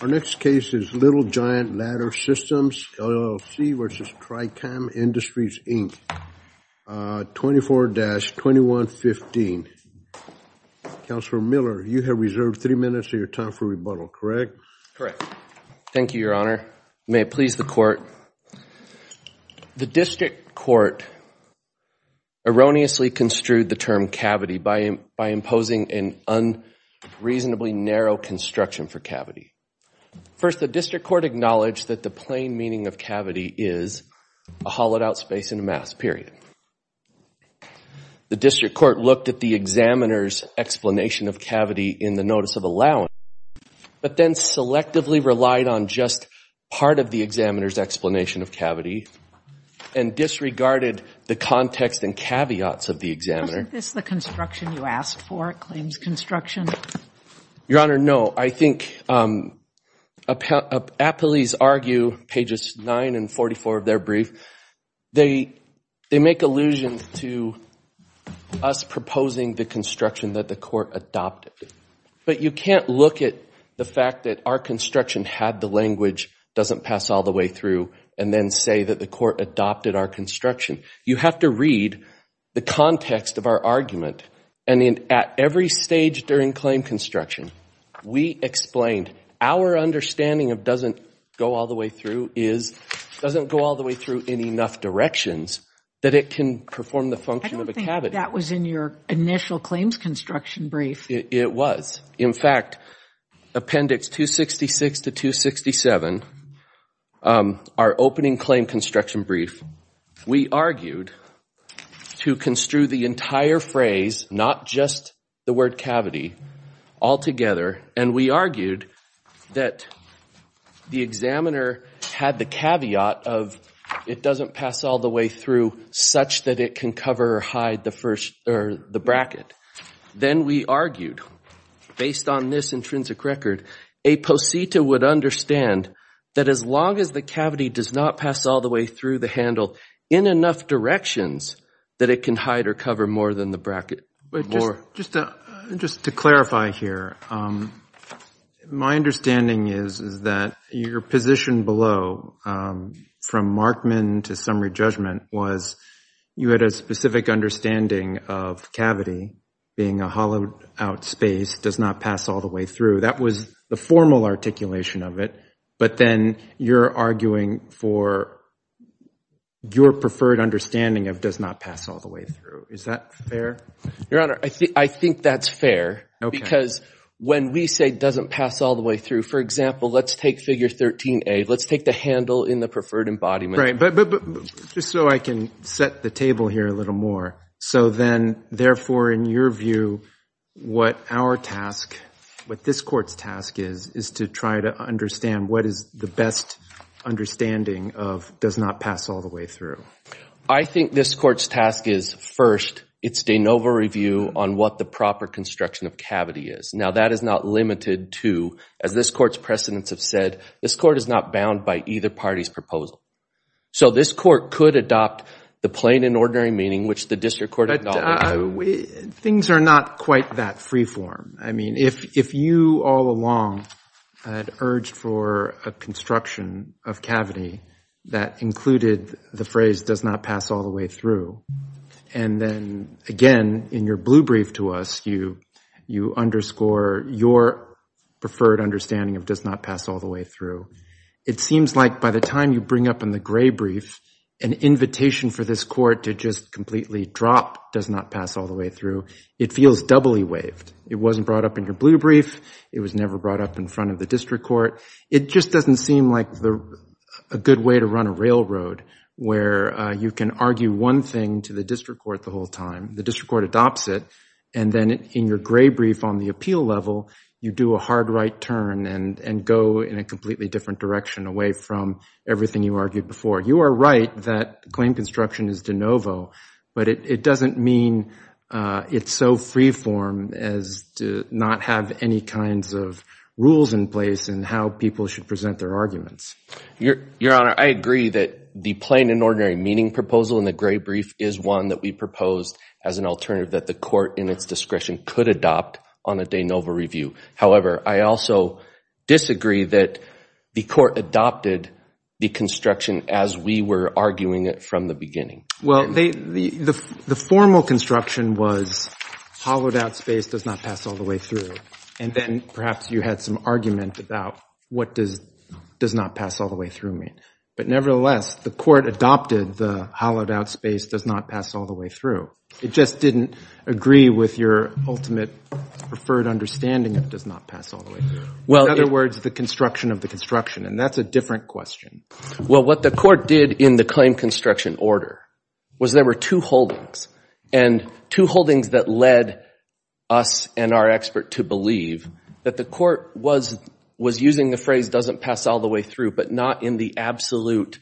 Our next case is Little Giant Ladder Systems, LLC v Tricam Industries, Inc., 24-2115. Counselor Miller, you have reserved three minutes of your time for rebuttal, correct? Correct. Thank you, Your Honor. May it please the court. The district court erroneously construed the term cavity by imposing an unreasonably narrow construction for cavity. First, the district court acknowledged that the plain meaning of cavity is a hollowed-out space in a mass, period. The district court looked at the examiner's explanation of cavity in the notice of allowance, but then selectively relied on just part of the examiner's explanation of cavity and disregarded the context and caveats of the examiner. Wasn't this the construction you asked for? It claims construction. Your Honor, no. I think appellees argue, pages 9 and 44 of their brief, they make allusion to us proposing the construction that the court adopted. But you can't look at the fact that our construction had the language, doesn't pass all the way through, and then say that the court adopted our construction. You have to read the context of our argument. And at every stage during claim construction, we explained our understanding of doesn't go all the way through is doesn't go all the way through in enough directions that it can perform the function of a cavity. I don't think that was in your initial claims construction brief. It was. In fact, appendix 266 to 267, our opening claim construction brief, we argued to construe the entire phrase, not just the word cavity, altogether. And we argued that the examiner had the caveat of it doesn't pass all the way through such that it can cover or hide the first or the bracket. Then we argued, based on this intrinsic record, a posita would understand that as long as the cavity does not pass all the way through the handle in enough directions that it can hide or cover more than the bracket. But just to clarify here, my understanding is that your position below from Markman to summary judgment was you had a specific understanding of cavity being a hollowed out space, does not pass all the way through. That was the formal articulation of it. But then you're arguing for your preferred understanding of does not pass all the way through. Is that fair? Your Honor, I think that's fair. Okay. Because when we say doesn't pass all the way through, for example, let's take figure 13A. Let's take the handle in the preferred embodiment. Right. But just so I can set the table here a little more. So then, therefore, in your view, what our task, what this court's task is, is to try to understand what is the best understanding of does not pass all the way through. I think this court's task is first, it's de novo review on what the proper construction of cavity is. Now, that is not limited to, as this court's precedents have said, this court is not bound by either party's proposal. So this court could adopt the plain and ordinary meaning, which the district court would not. Things are not quite that freeform. I mean, if you all along had urged for a construction of cavity that included the phrase does not pass all the way through, and then again, in your blue brief to us, you underscore your preferred understanding of does not pass all the way through. It seems like by the time you bring up in the gray brief, an invitation for this court to just completely drop does not pass all the way through, it feels doubly waived. It wasn't brought up in your blue brief. It was never brought up in front of the district court. It just doesn't seem like a good way to run a railroad where you can argue one thing to the district court the whole time. The district court adopts it. And then in your gray brief on the appeal level, you do a hard right turn and go in a completely different direction away from everything you argued before. You are right that claim construction is de novo, but it doesn't mean it's so freeform as to not have any kinds of rules in place and how people should present their arguments. Your Honor, I agree that the plain and ordinary meaning proposal in the gray brief is one that we proposed as an alternative that the court in its discretion could adopt on a de novo review. However, I also disagree that the court adopted the construction as we were arguing it from the beginning. Well, the formal construction was hollowed out space does not pass all the way through. And then perhaps you had some argument about what does not pass all the way through mean. But nevertheless, the court adopted the hollowed out space does not pass all the way through. It just didn't agree with your ultimate preferred understanding that it does not pass all the way through. In other words, the construction of the construction, and that's a different question. Well, what the court did in the claim construction order was there were two holdings, and two holdings that led us and our expert to believe that the court was using the phrase doesn't pass all the way through, but not in the absolute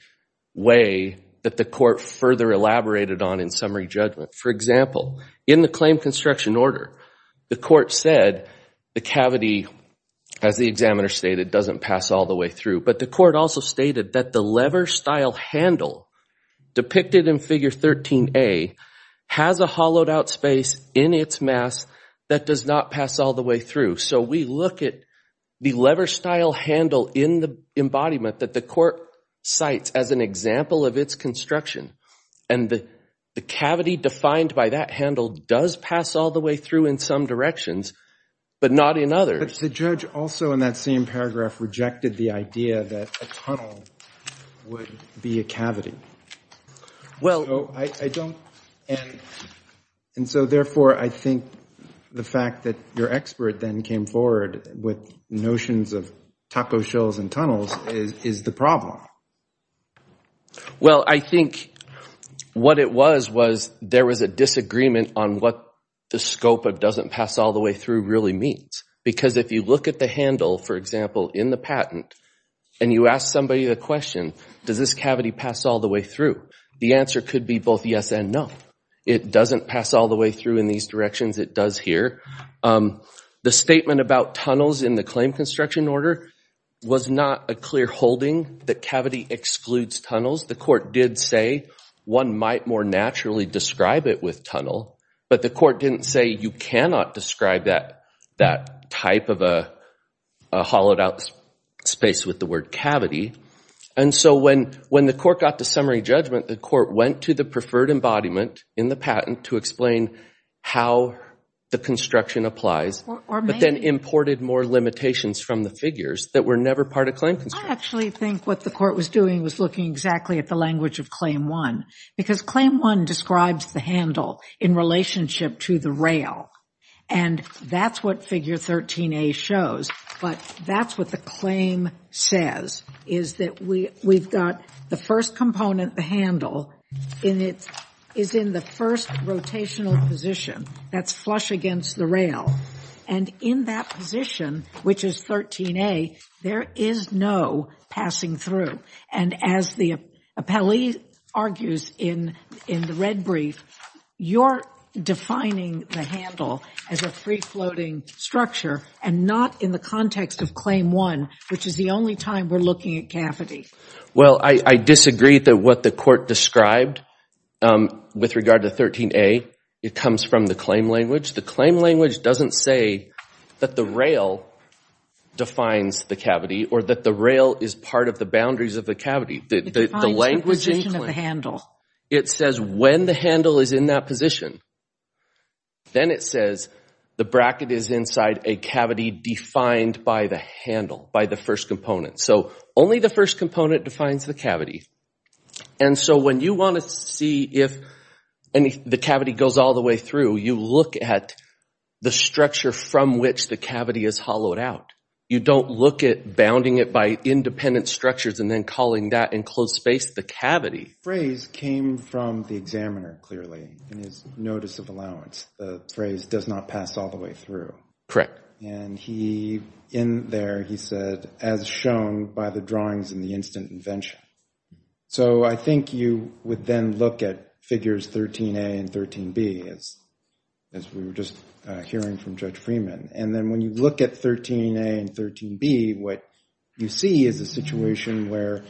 way that the further elaborated on in summary judgment. For example, in the claim construction order, the court said the cavity, as the examiner stated, doesn't pass all the way through. But the court also stated that the lever style handle depicted in figure 13A has a hollowed out space in its mass that does not pass all the way through. So we look at the lever style handle in the embodiment that the court cites as an example of its construction. And the cavity defined by that handle does pass all the way through in some directions, but not in others. But the judge also in that same paragraph rejected the idea that a tunnel would be a cavity. And so therefore, I think the fact that your expert then came forward with notions of taco and tunnels is the problem. Well, I think what it was was there was a disagreement on what the scope of doesn't pass all the way through really means. Because if you look at the handle, for example, in the patent, and you ask somebody the question, does this cavity pass all the way through? The answer could be both yes and no. It doesn't pass all the way through in these it does here. The statement about tunnels in the claim construction order was not a clear holding that cavity excludes tunnels. The court did say one might more naturally describe it with tunnel. But the court didn't say you cannot describe that type of a hollowed out space with the word cavity. And so when the court got to summary judgment, the court went to the preferred embodiment in the patent to explain how the construction applies, but then imported more limitations from the figures that were never part of claim construction. I actually think what the court was doing was looking exactly at the language of claim one. Because claim one describes the handle in relationship to the rail. And that's what figure 13a shows. But that's what the claim says, is that we've got the first component, the handle, is in the first rotational position that's flush against the rail. And in that position, which is 13a, there is no passing through. And as the appellee argues in the red brief, you're defining the handle as a free only time we're looking at cavity. Well, I disagree that what the court described with regard to 13a, it comes from the claim language. The claim language doesn't say that the rail defines the cavity or that the rail is part of the boundaries of the cavity. It says when the handle is in that position, then it says the bracket is inside a cavity defined by the handle, by the first component. So only the first component defines the cavity. And so when you want to see if the cavity goes all the way through, you look at the structure from which the cavity is hollowed out. You don't look at bounding it by independent structures and then calling that enclosed space the cavity. The phrase came from the examiner clearly in his notice of allowance. The phrase does not pass all the way through. And in there, he said, as shown by the drawings in the instant invention. So I think you would then look at figures 13a and 13b, as we were just hearing from Judge Freeman. And then when you look at 13a and 13b, what you see is a situation where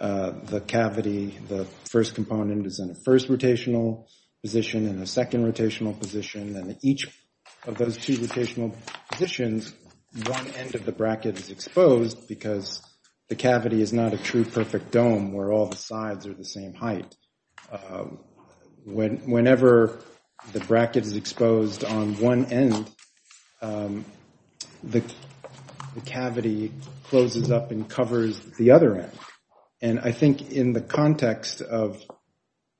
the cavity, the first component is in a first rotational position and a second rotational position. And each of those two rotational positions, one end of the bracket is exposed because the cavity is not a true perfect dome where all the sides are the same height. Whenever the bracket is exposed on one end, the cavity closes up and covers the other end. And I think in the context of,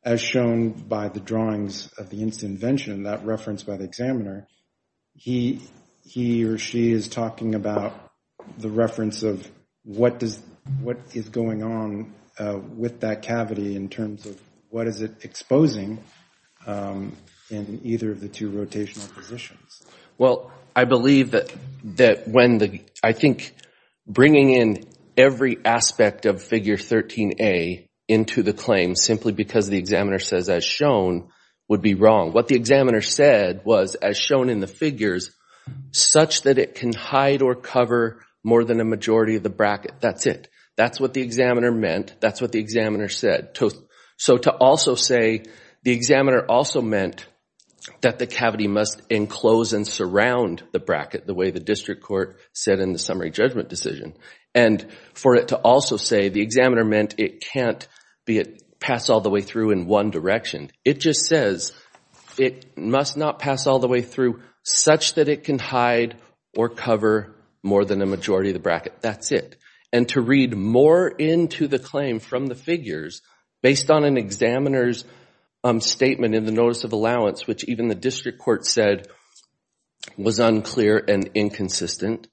as shown by the drawings of the instant invention, that reference by the examiner, he or she is talking about the reference of what is going on with that cavity in terms of what is it exposing in either of the two rotational positions. Well, I believe that when the, I think bringing in every aspect of figure 13a into the claim simply because the examiner says as shown would be wrong. What the examiner said was as shown in the figures, such that it can hide or cover more than a majority of the bracket, that's it. That's what the examiner meant. That's what the examiner said. So to also say the examiner also meant that the cavity must enclose and surround the bracket the way the district court said in the summary judgment decision. And for it to also say the examiner meant it can't pass all the way through in one direction. It just says it must not pass all the way through such that it can hide or cover more than a majority of the bracket. That's it. And to read more into the claim from the figures based on an examiner's statement in the notice of allowance, which even the district court said was unclear and inconsistent,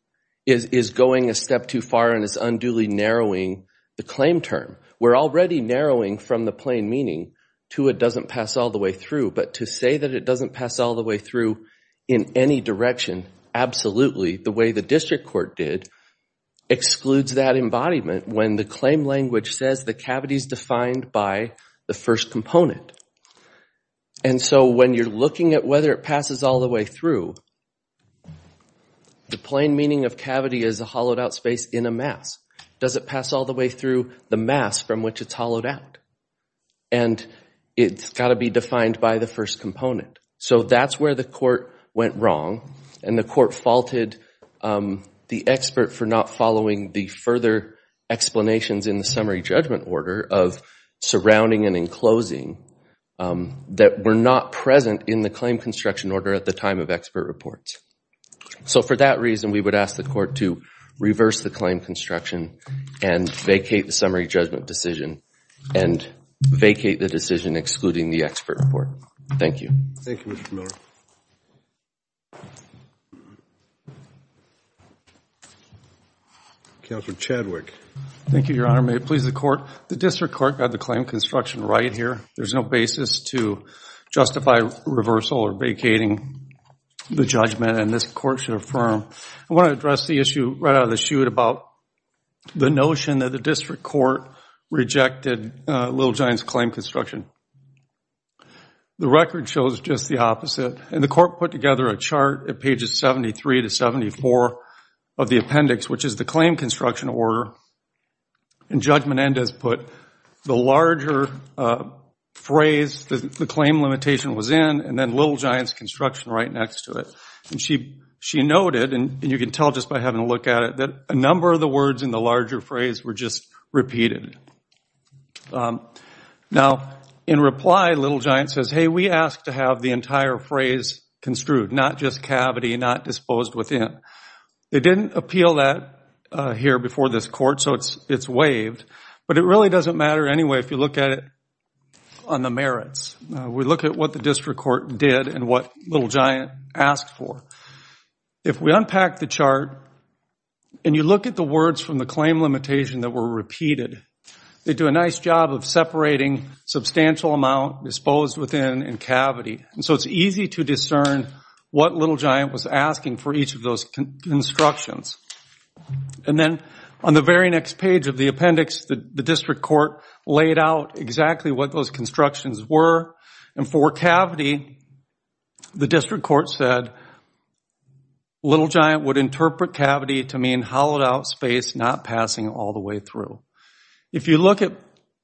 is going a step too far and is unduly narrowing the claim term. We're already narrowing from the plain meaning to it doesn't pass all the way through. But to say that it doesn't pass all the way through in any direction, absolutely, the way the district court did, excludes that embodiment when the claim language says the cavity is defined by the first component. And so when you're looking at whether it passes all the way through, the plain meaning of cavity is a hollowed out space in a mass. Does it pass all the way through the mass from which it's hollowed out? And it's got to be defined by the first component. So that's where the court went wrong and the court faulted the expert for not following the further explanations in the summary judgment order of surrounding and enclosing that were not present in the claim construction order at the time of expert reports. So for that reason, we would ask the court to reverse the claim construction and vacate the summary judgment decision and vacate the decision excluding the expert report. Thank you. Thank you, Mr. Miller. Counselor Chadwick. Thank you, Your Honor. May it please the court. The district court got the claim construction right here. There's no basis to justify reversal or vacating the judgment and this court should affirm. I want to address the issue right out of the chute about the notion that the district court rejected Little Giant's claim construction. The record shows just the opposite. And the court put together a chart at pages 73 to 74 of the appendix, which is the claim construction order. And Judge Menendez put the larger phrase that the claim limitation was in and then Little Giant's construction right next to it. And she noted, and you can tell just by having a look at it, that a number of the words in the larger phrase were just repeated. Now in reply, Little Giant says, hey, we asked to have the entire phrase construed, not just cavity, not disposed within. It didn't appeal that here before this court, so it's waived. But it really doesn't matter anyway if you look at it on the merits. We look at what the district court did and what Little Giant asked for. If we unpack the chart and you look at the words from the claim limitation that were repeated, they do a nice job of separating substantial amount, disposed within, and cavity. And so it's easy to discern what Little Giant was asking for each of those constructions. And then on the very next page of the appendix, the district court laid out exactly what those constructions were. And for cavity, the district court said Little Giant would interpret cavity to mean hollowed out space not passing all the way through. If you look at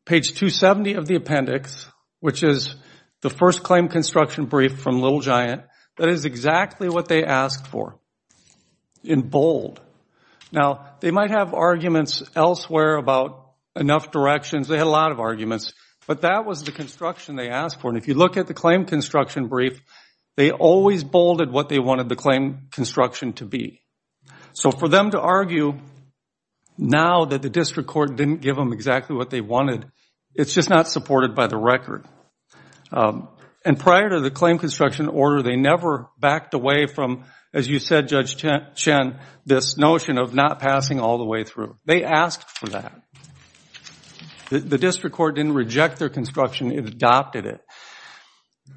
page 270 of the appendix, which is the first claim construction brief from Little Giant, that is exactly what they asked for in bold. Now they might have arguments elsewhere about enough directions. They had a lot of construction they asked for. And if you look at the claim construction brief, they always bolded what they wanted the claim construction to be. So for them to argue now that the district court didn't give them exactly what they wanted, it's just not supported by the record. And prior to the claim construction order, they never backed away from, as you said Judge Chen, this notion of not passing all the way through. They asked for that. The district court didn't reject their construction, it adopted it.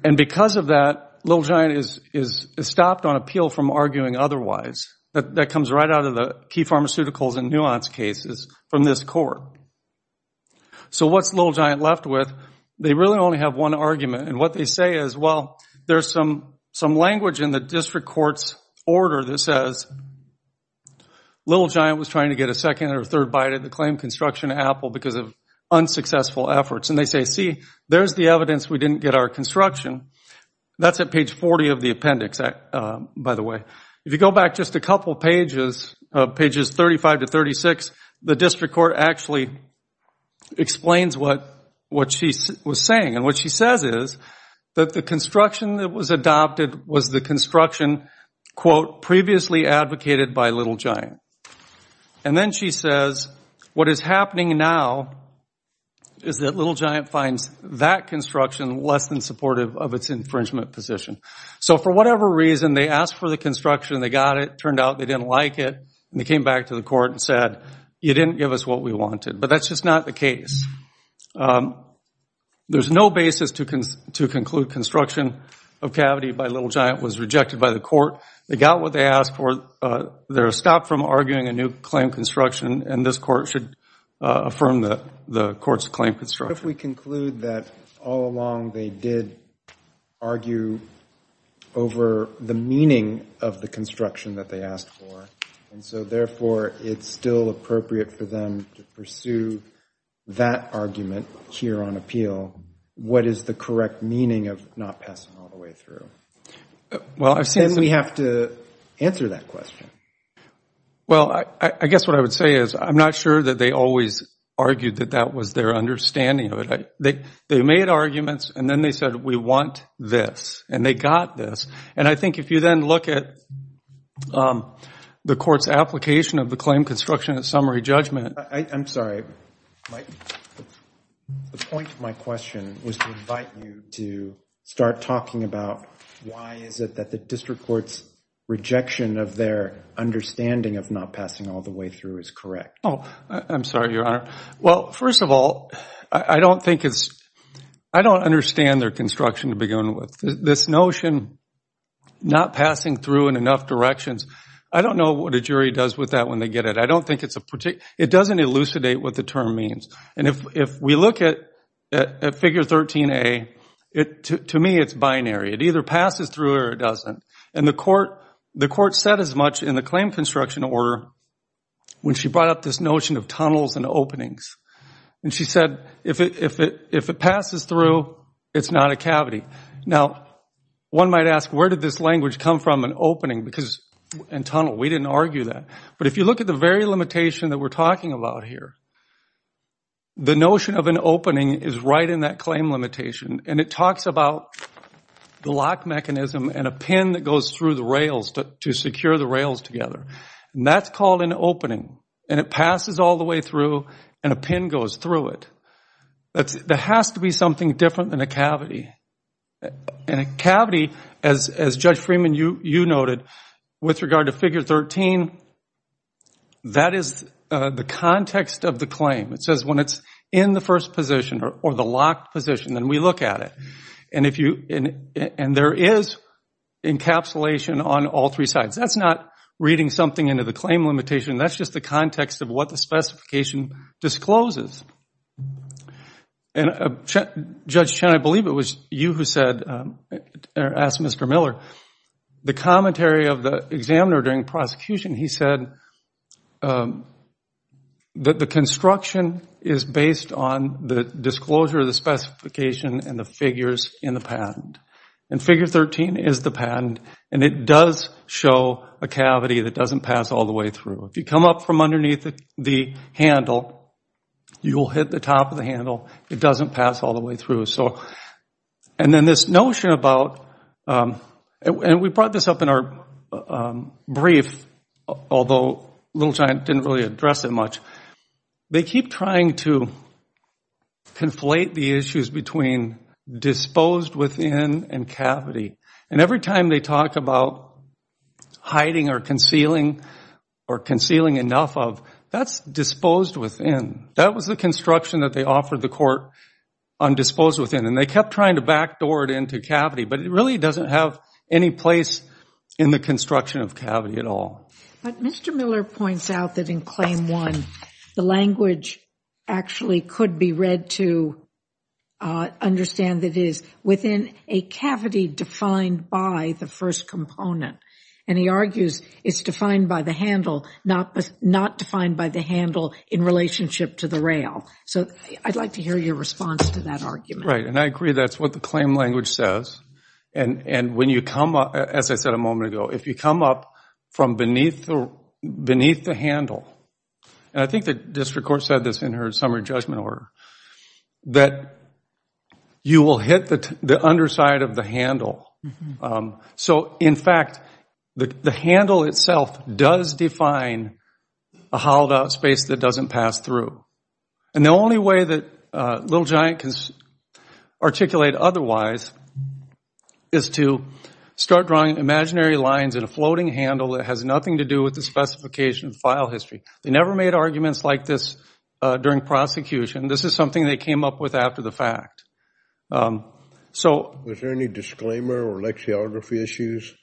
And because of that, Little Giant is stopped on appeal from arguing otherwise. That comes right out of the key pharmaceuticals and nuance cases from this court. So what's Little Giant left with? They really only have one argument. And what they say is, well, there's some language in the district court's order that says Little Giant was trying to get a second or third bite of the claim construction apple because of unsuccessful efforts. And they say, see, there's the evidence we didn't get our construction. That's at page 40 of the appendix, by the way. If you go back just a couple pages, pages 35 to 36, the district court actually explains what she was saying. And what she says is that the construction that was adopted was the construction, quote, previously advocated by Little Giant. And then she says, what is happening now is that Little Giant finds that construction less than supportive of its infringement position. So for whatever reason, they asked for the construction, they got it, turned out they didn't like it, and they came back to the court and said, you didn't give us what we wanted. But that's just not the case. There's no basis to conclude construction of cavity by Little Giant was rejected by the court. They got what they asked for. They're should affirm the court's claim construction. If we conclude that all along they did argue over the meaning of the construction that they asked for, and so therefore it's still appropriate for them to pursue that argument here on appeal, what is the correct meaning of not passing all the way through? Then we have to answer that question. Well, I guess what I would say is, I'm not sure that they always argued that that was their understanding of it. They made arguments, and then they said, we want this. And they got this. And I think if you then look at the court's application of the claim construction at summary judgment. I'm sorry. The point of my question was to invite you to start talking about why is it that the district court's rejection of their understanding of not passing all the way through is correct? Oh, I'm sorry, Your Honor. Well, first of all, I don't think it's, I don't understand their construction to begin with. This notion not passing through in enough directions, I don't know what a jury does with that when they get it. I don't think it's a particular, it doesn't elucidate what the term means. And if we look at figure 13a, to me it's binary. It either passes through or it doesn't. And the court said as much in the claim construction order when she brought up this notion of tunnels and openings. And she said, if it passes through, it's not a cavity. Now, one might ask, where did this language come from in opening and tunnel? We didn't argue that. But if you look at the very limitation that we're talking about here, the notion of an opening is right in that claim limitation. And it talks about the lock mechanism and a pin that goes through the rails to secure the rails together. And that's called an opening. And it passes all the way through and a pin goes through it. There has to be something different than a cavity. And a cavity, as Judge Freeman, you noted, with regard to figure 13, that is the context of the claim. It says when it's in the first position or the locked position, then we look at it. And there is encapsulation on all three sides. That's not reading something into the claim limitation. That's just the context of what the specification discloses. And Judge Chen, I believe it was you who said, asked Mr. Miller, the commentary of the examiner during prosecution, he said that the construction is based on the disclosure of the specification and the figures in the patent. And figure 13 is the patent. And it does show a cavity that doesn't pass all the way through. If you come up from underneath the handle, you'll hit the top of the handle. It doesn't pass all the way through. And then this notion about, and we brought this up in our brief, although Little Giant didn't really address it much, they keep trying to conflate the issues between disposed within and cavity. And every time they talk about hiding or concealing or concealing enough of, that's disposed within. That was the construction that they offered the court on disposed within. And they kept trying to backdoor it into cavity, but it really doesn't have any place in the construction of cavity at all. But Mr. Miller points out that in Claim 1, the language actually could be read to understand that it is within a cavity defined by the first component. And he argues it's defined by the handle, not defined by the handle in relationship to the rail. So I'd like to hear your response to that argument. Right. And I agree that's what the claim language says. And when you come up, as I said a moment ago, if you come up from beneath the handle, and I think the district court said this in her summary judgment order, that you will hit the underside of the handle. So in fact, the handle itself does define a hollowed out space that doesn't pass through. And the only way that Little Giant can articulate otherwise is to start drawing imaginary lines in a floating handle that has nothing to do with the specification file history. They never made arguments like this during prosecution. This is something they came up with after the fact. Was there any disclaimer or lexicography issues?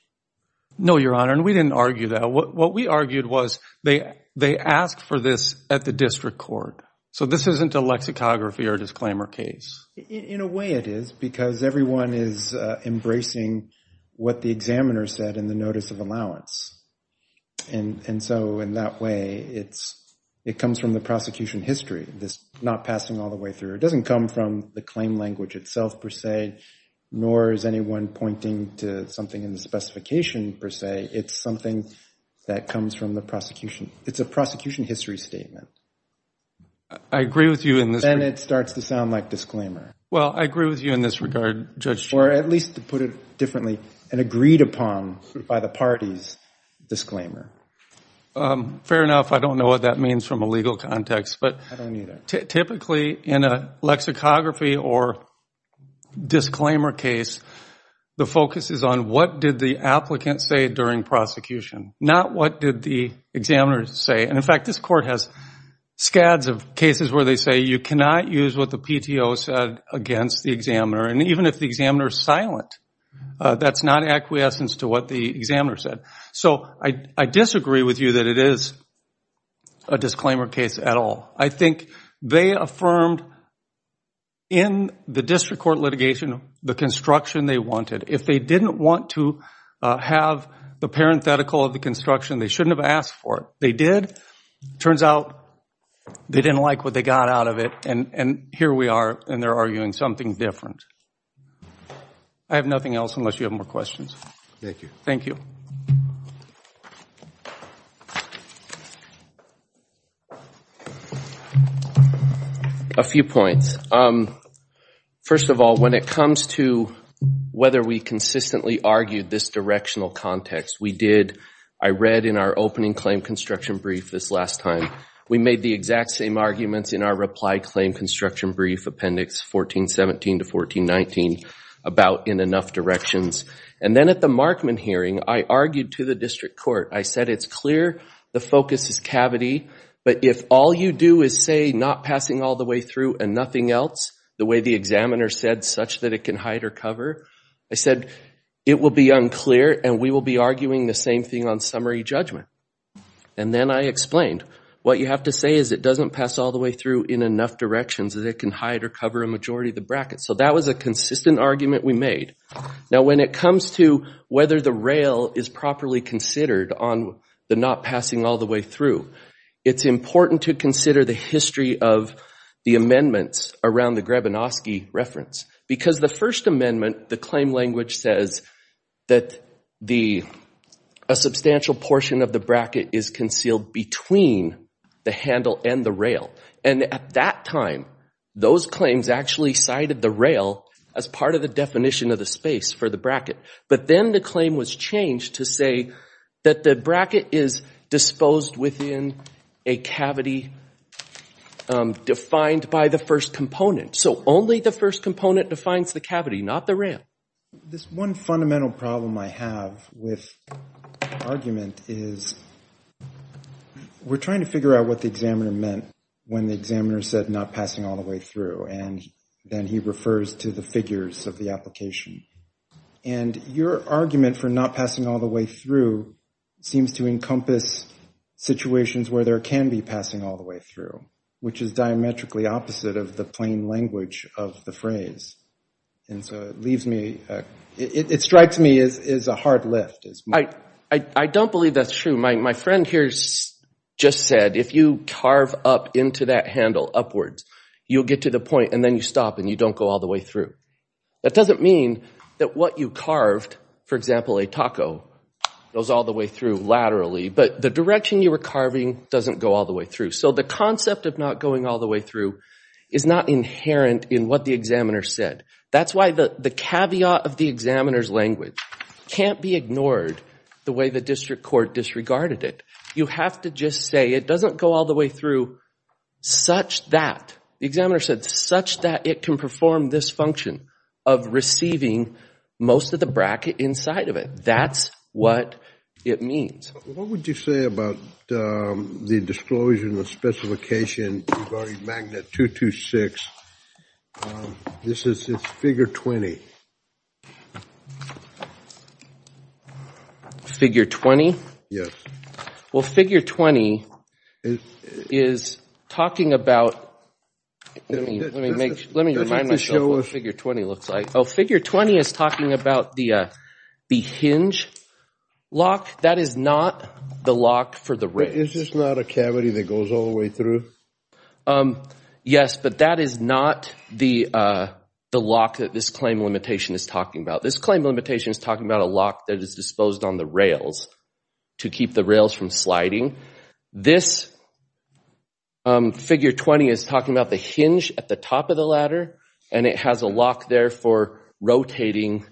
No, Your Honor. And we didn't argue that. What we argued was they asked for this at the district court. So this isn't a lexicography or disclaimer case. In a way, it is, because everyone is embracing what the examiner said in the notice of allowance. And so in that way, it comes from the prosecution history, this not passing all the way through. It doesn't come from the claim language itself, per se, nor is anyone pointing to something in the specification, per se. It's something that comes from the prosecution. It's prosecution history statement. I agree with you in this. Then it starts to sound like disclaimer. Well, I agree with you in this regard, Judge. Or at least to put it differently, an agreed upon by the parties disclaimer. Fair enough. I don't know what that means from a legal context, but typically in a lexicography or disclaimer case, the focus is on what did the applicant say during prosecution, not what did the examiner say. And in fact, this court has scads of cases where they say you cannot use what the PTO said against the examiner. And even if the examiner is silent, that's not acquiescence to what the examiner said. So I disagree with you that it is a disclaimer case at all. I think they affirmed in the district court litigation the construction they wanted. If they didn't want to have the parenthetical of the construction, they shouldn't have asked for it. They did. Turns out they didn't like what they got out of it, and here we are, and they're arguing something different. I have nothing else unless you have more questions. Thank you. A few points. First of all, when it comes to whether we consistently argued this directional context, we did. I read in our opening claim construction brief this last time, we made the exact same arguments in our reply claim construction brief appendix 1417 to 1419 about in enough directions. And then at the Markman hearing, I argued to the district court. I said it's clear the focus is cavity, but if all you do is say not passing all the way through and nothing else, the way the examiner said such that it can hide or cover, I said it will be unclear and we will be arguing the same thing on summary judgment. And then I explained what you have to say is it doesn't pass all the way through in enough directions that it can hide or cover a majority of the bracket. So that was a consistent argument we made. Now, when it comes to whether the rail is properly considered on the not passing all the way through, it's important to consider the history of the amendments around the Grebinoski reference. Because the First Amendment, the claim language says that a substantial portion of the bracket is concealed between the handle and the that time, those claims actually cited the rail as part of the definition of the space for the bracket. But then the claim was changed to say that the bracket is disposed within a cavity defined by the first component. So only the first component defines the cavity, not the rail. This one fundamental problem I have with argument is we're trying to figure out what the examiner meant when the examiner said not passing all the way through. And then he refers to the figures of the application. And your argument for not passing all the way through seems to encompass situations where there can be passing all the way through, which is diametrically opposite of the plain language of the phrase. And so it leaves me, it strikes me as a hard left. I don't believe that's true. My friend here just said if you carve up into that handle upwards, you'll get to the point and then you stop and you don't go all the way through. That doesn't mean that what you carved, for example, a taco, goes all the way through laterally. But the direction you were carving doesn't go all the way through. So the concept of not going all the way through is not inherent in what the examiner said. That's why the caveat of the examiner's language can't be ignored the way the district court disregarded it. You have to just say it doesn't go all the way through such that the examiner said such that it can perform this function of receiving most of the bracket inside of it. That's what it means. What would you say about the disclosure and the specification regarding magnet 226? Um, this is, it's figure 20. Figure 20? Yes. Well, figure 20 is talking about, let me, let me make, let me remind myself what figure 20 looks like. Oh, figure 20 is talking about the, uh, the hinge lock. That is not the lock for the wrist. Is this not a cavity that goes all the way through? Um, yes, but that is not the, uh, the lock that this claim limitation is talking about. This claim limitation is talking about a lock that is disposed on the rails to keep the rails from sliding. This, um, figure 20 is talking about the hinge at the top of the ladder and it has a lock there for rotating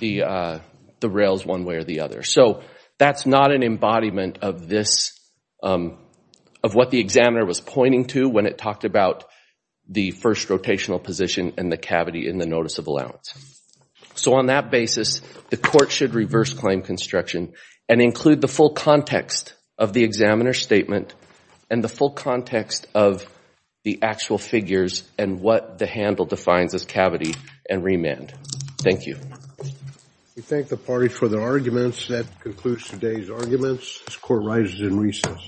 the, uh, the rails one way or the other. So that's not an embodiment of this, um, of what the examiner was pointing to when it talked about the first rotational position and the cavity in the notice of allowance. So on that basis, the court should reverse claim construction and include the full context of the examiner statement and the full context of the actual figures and what the handle defines as cavity and remand. Thank you. We thank the party for their arguments. That concludes today's arguments. This court rises in recess.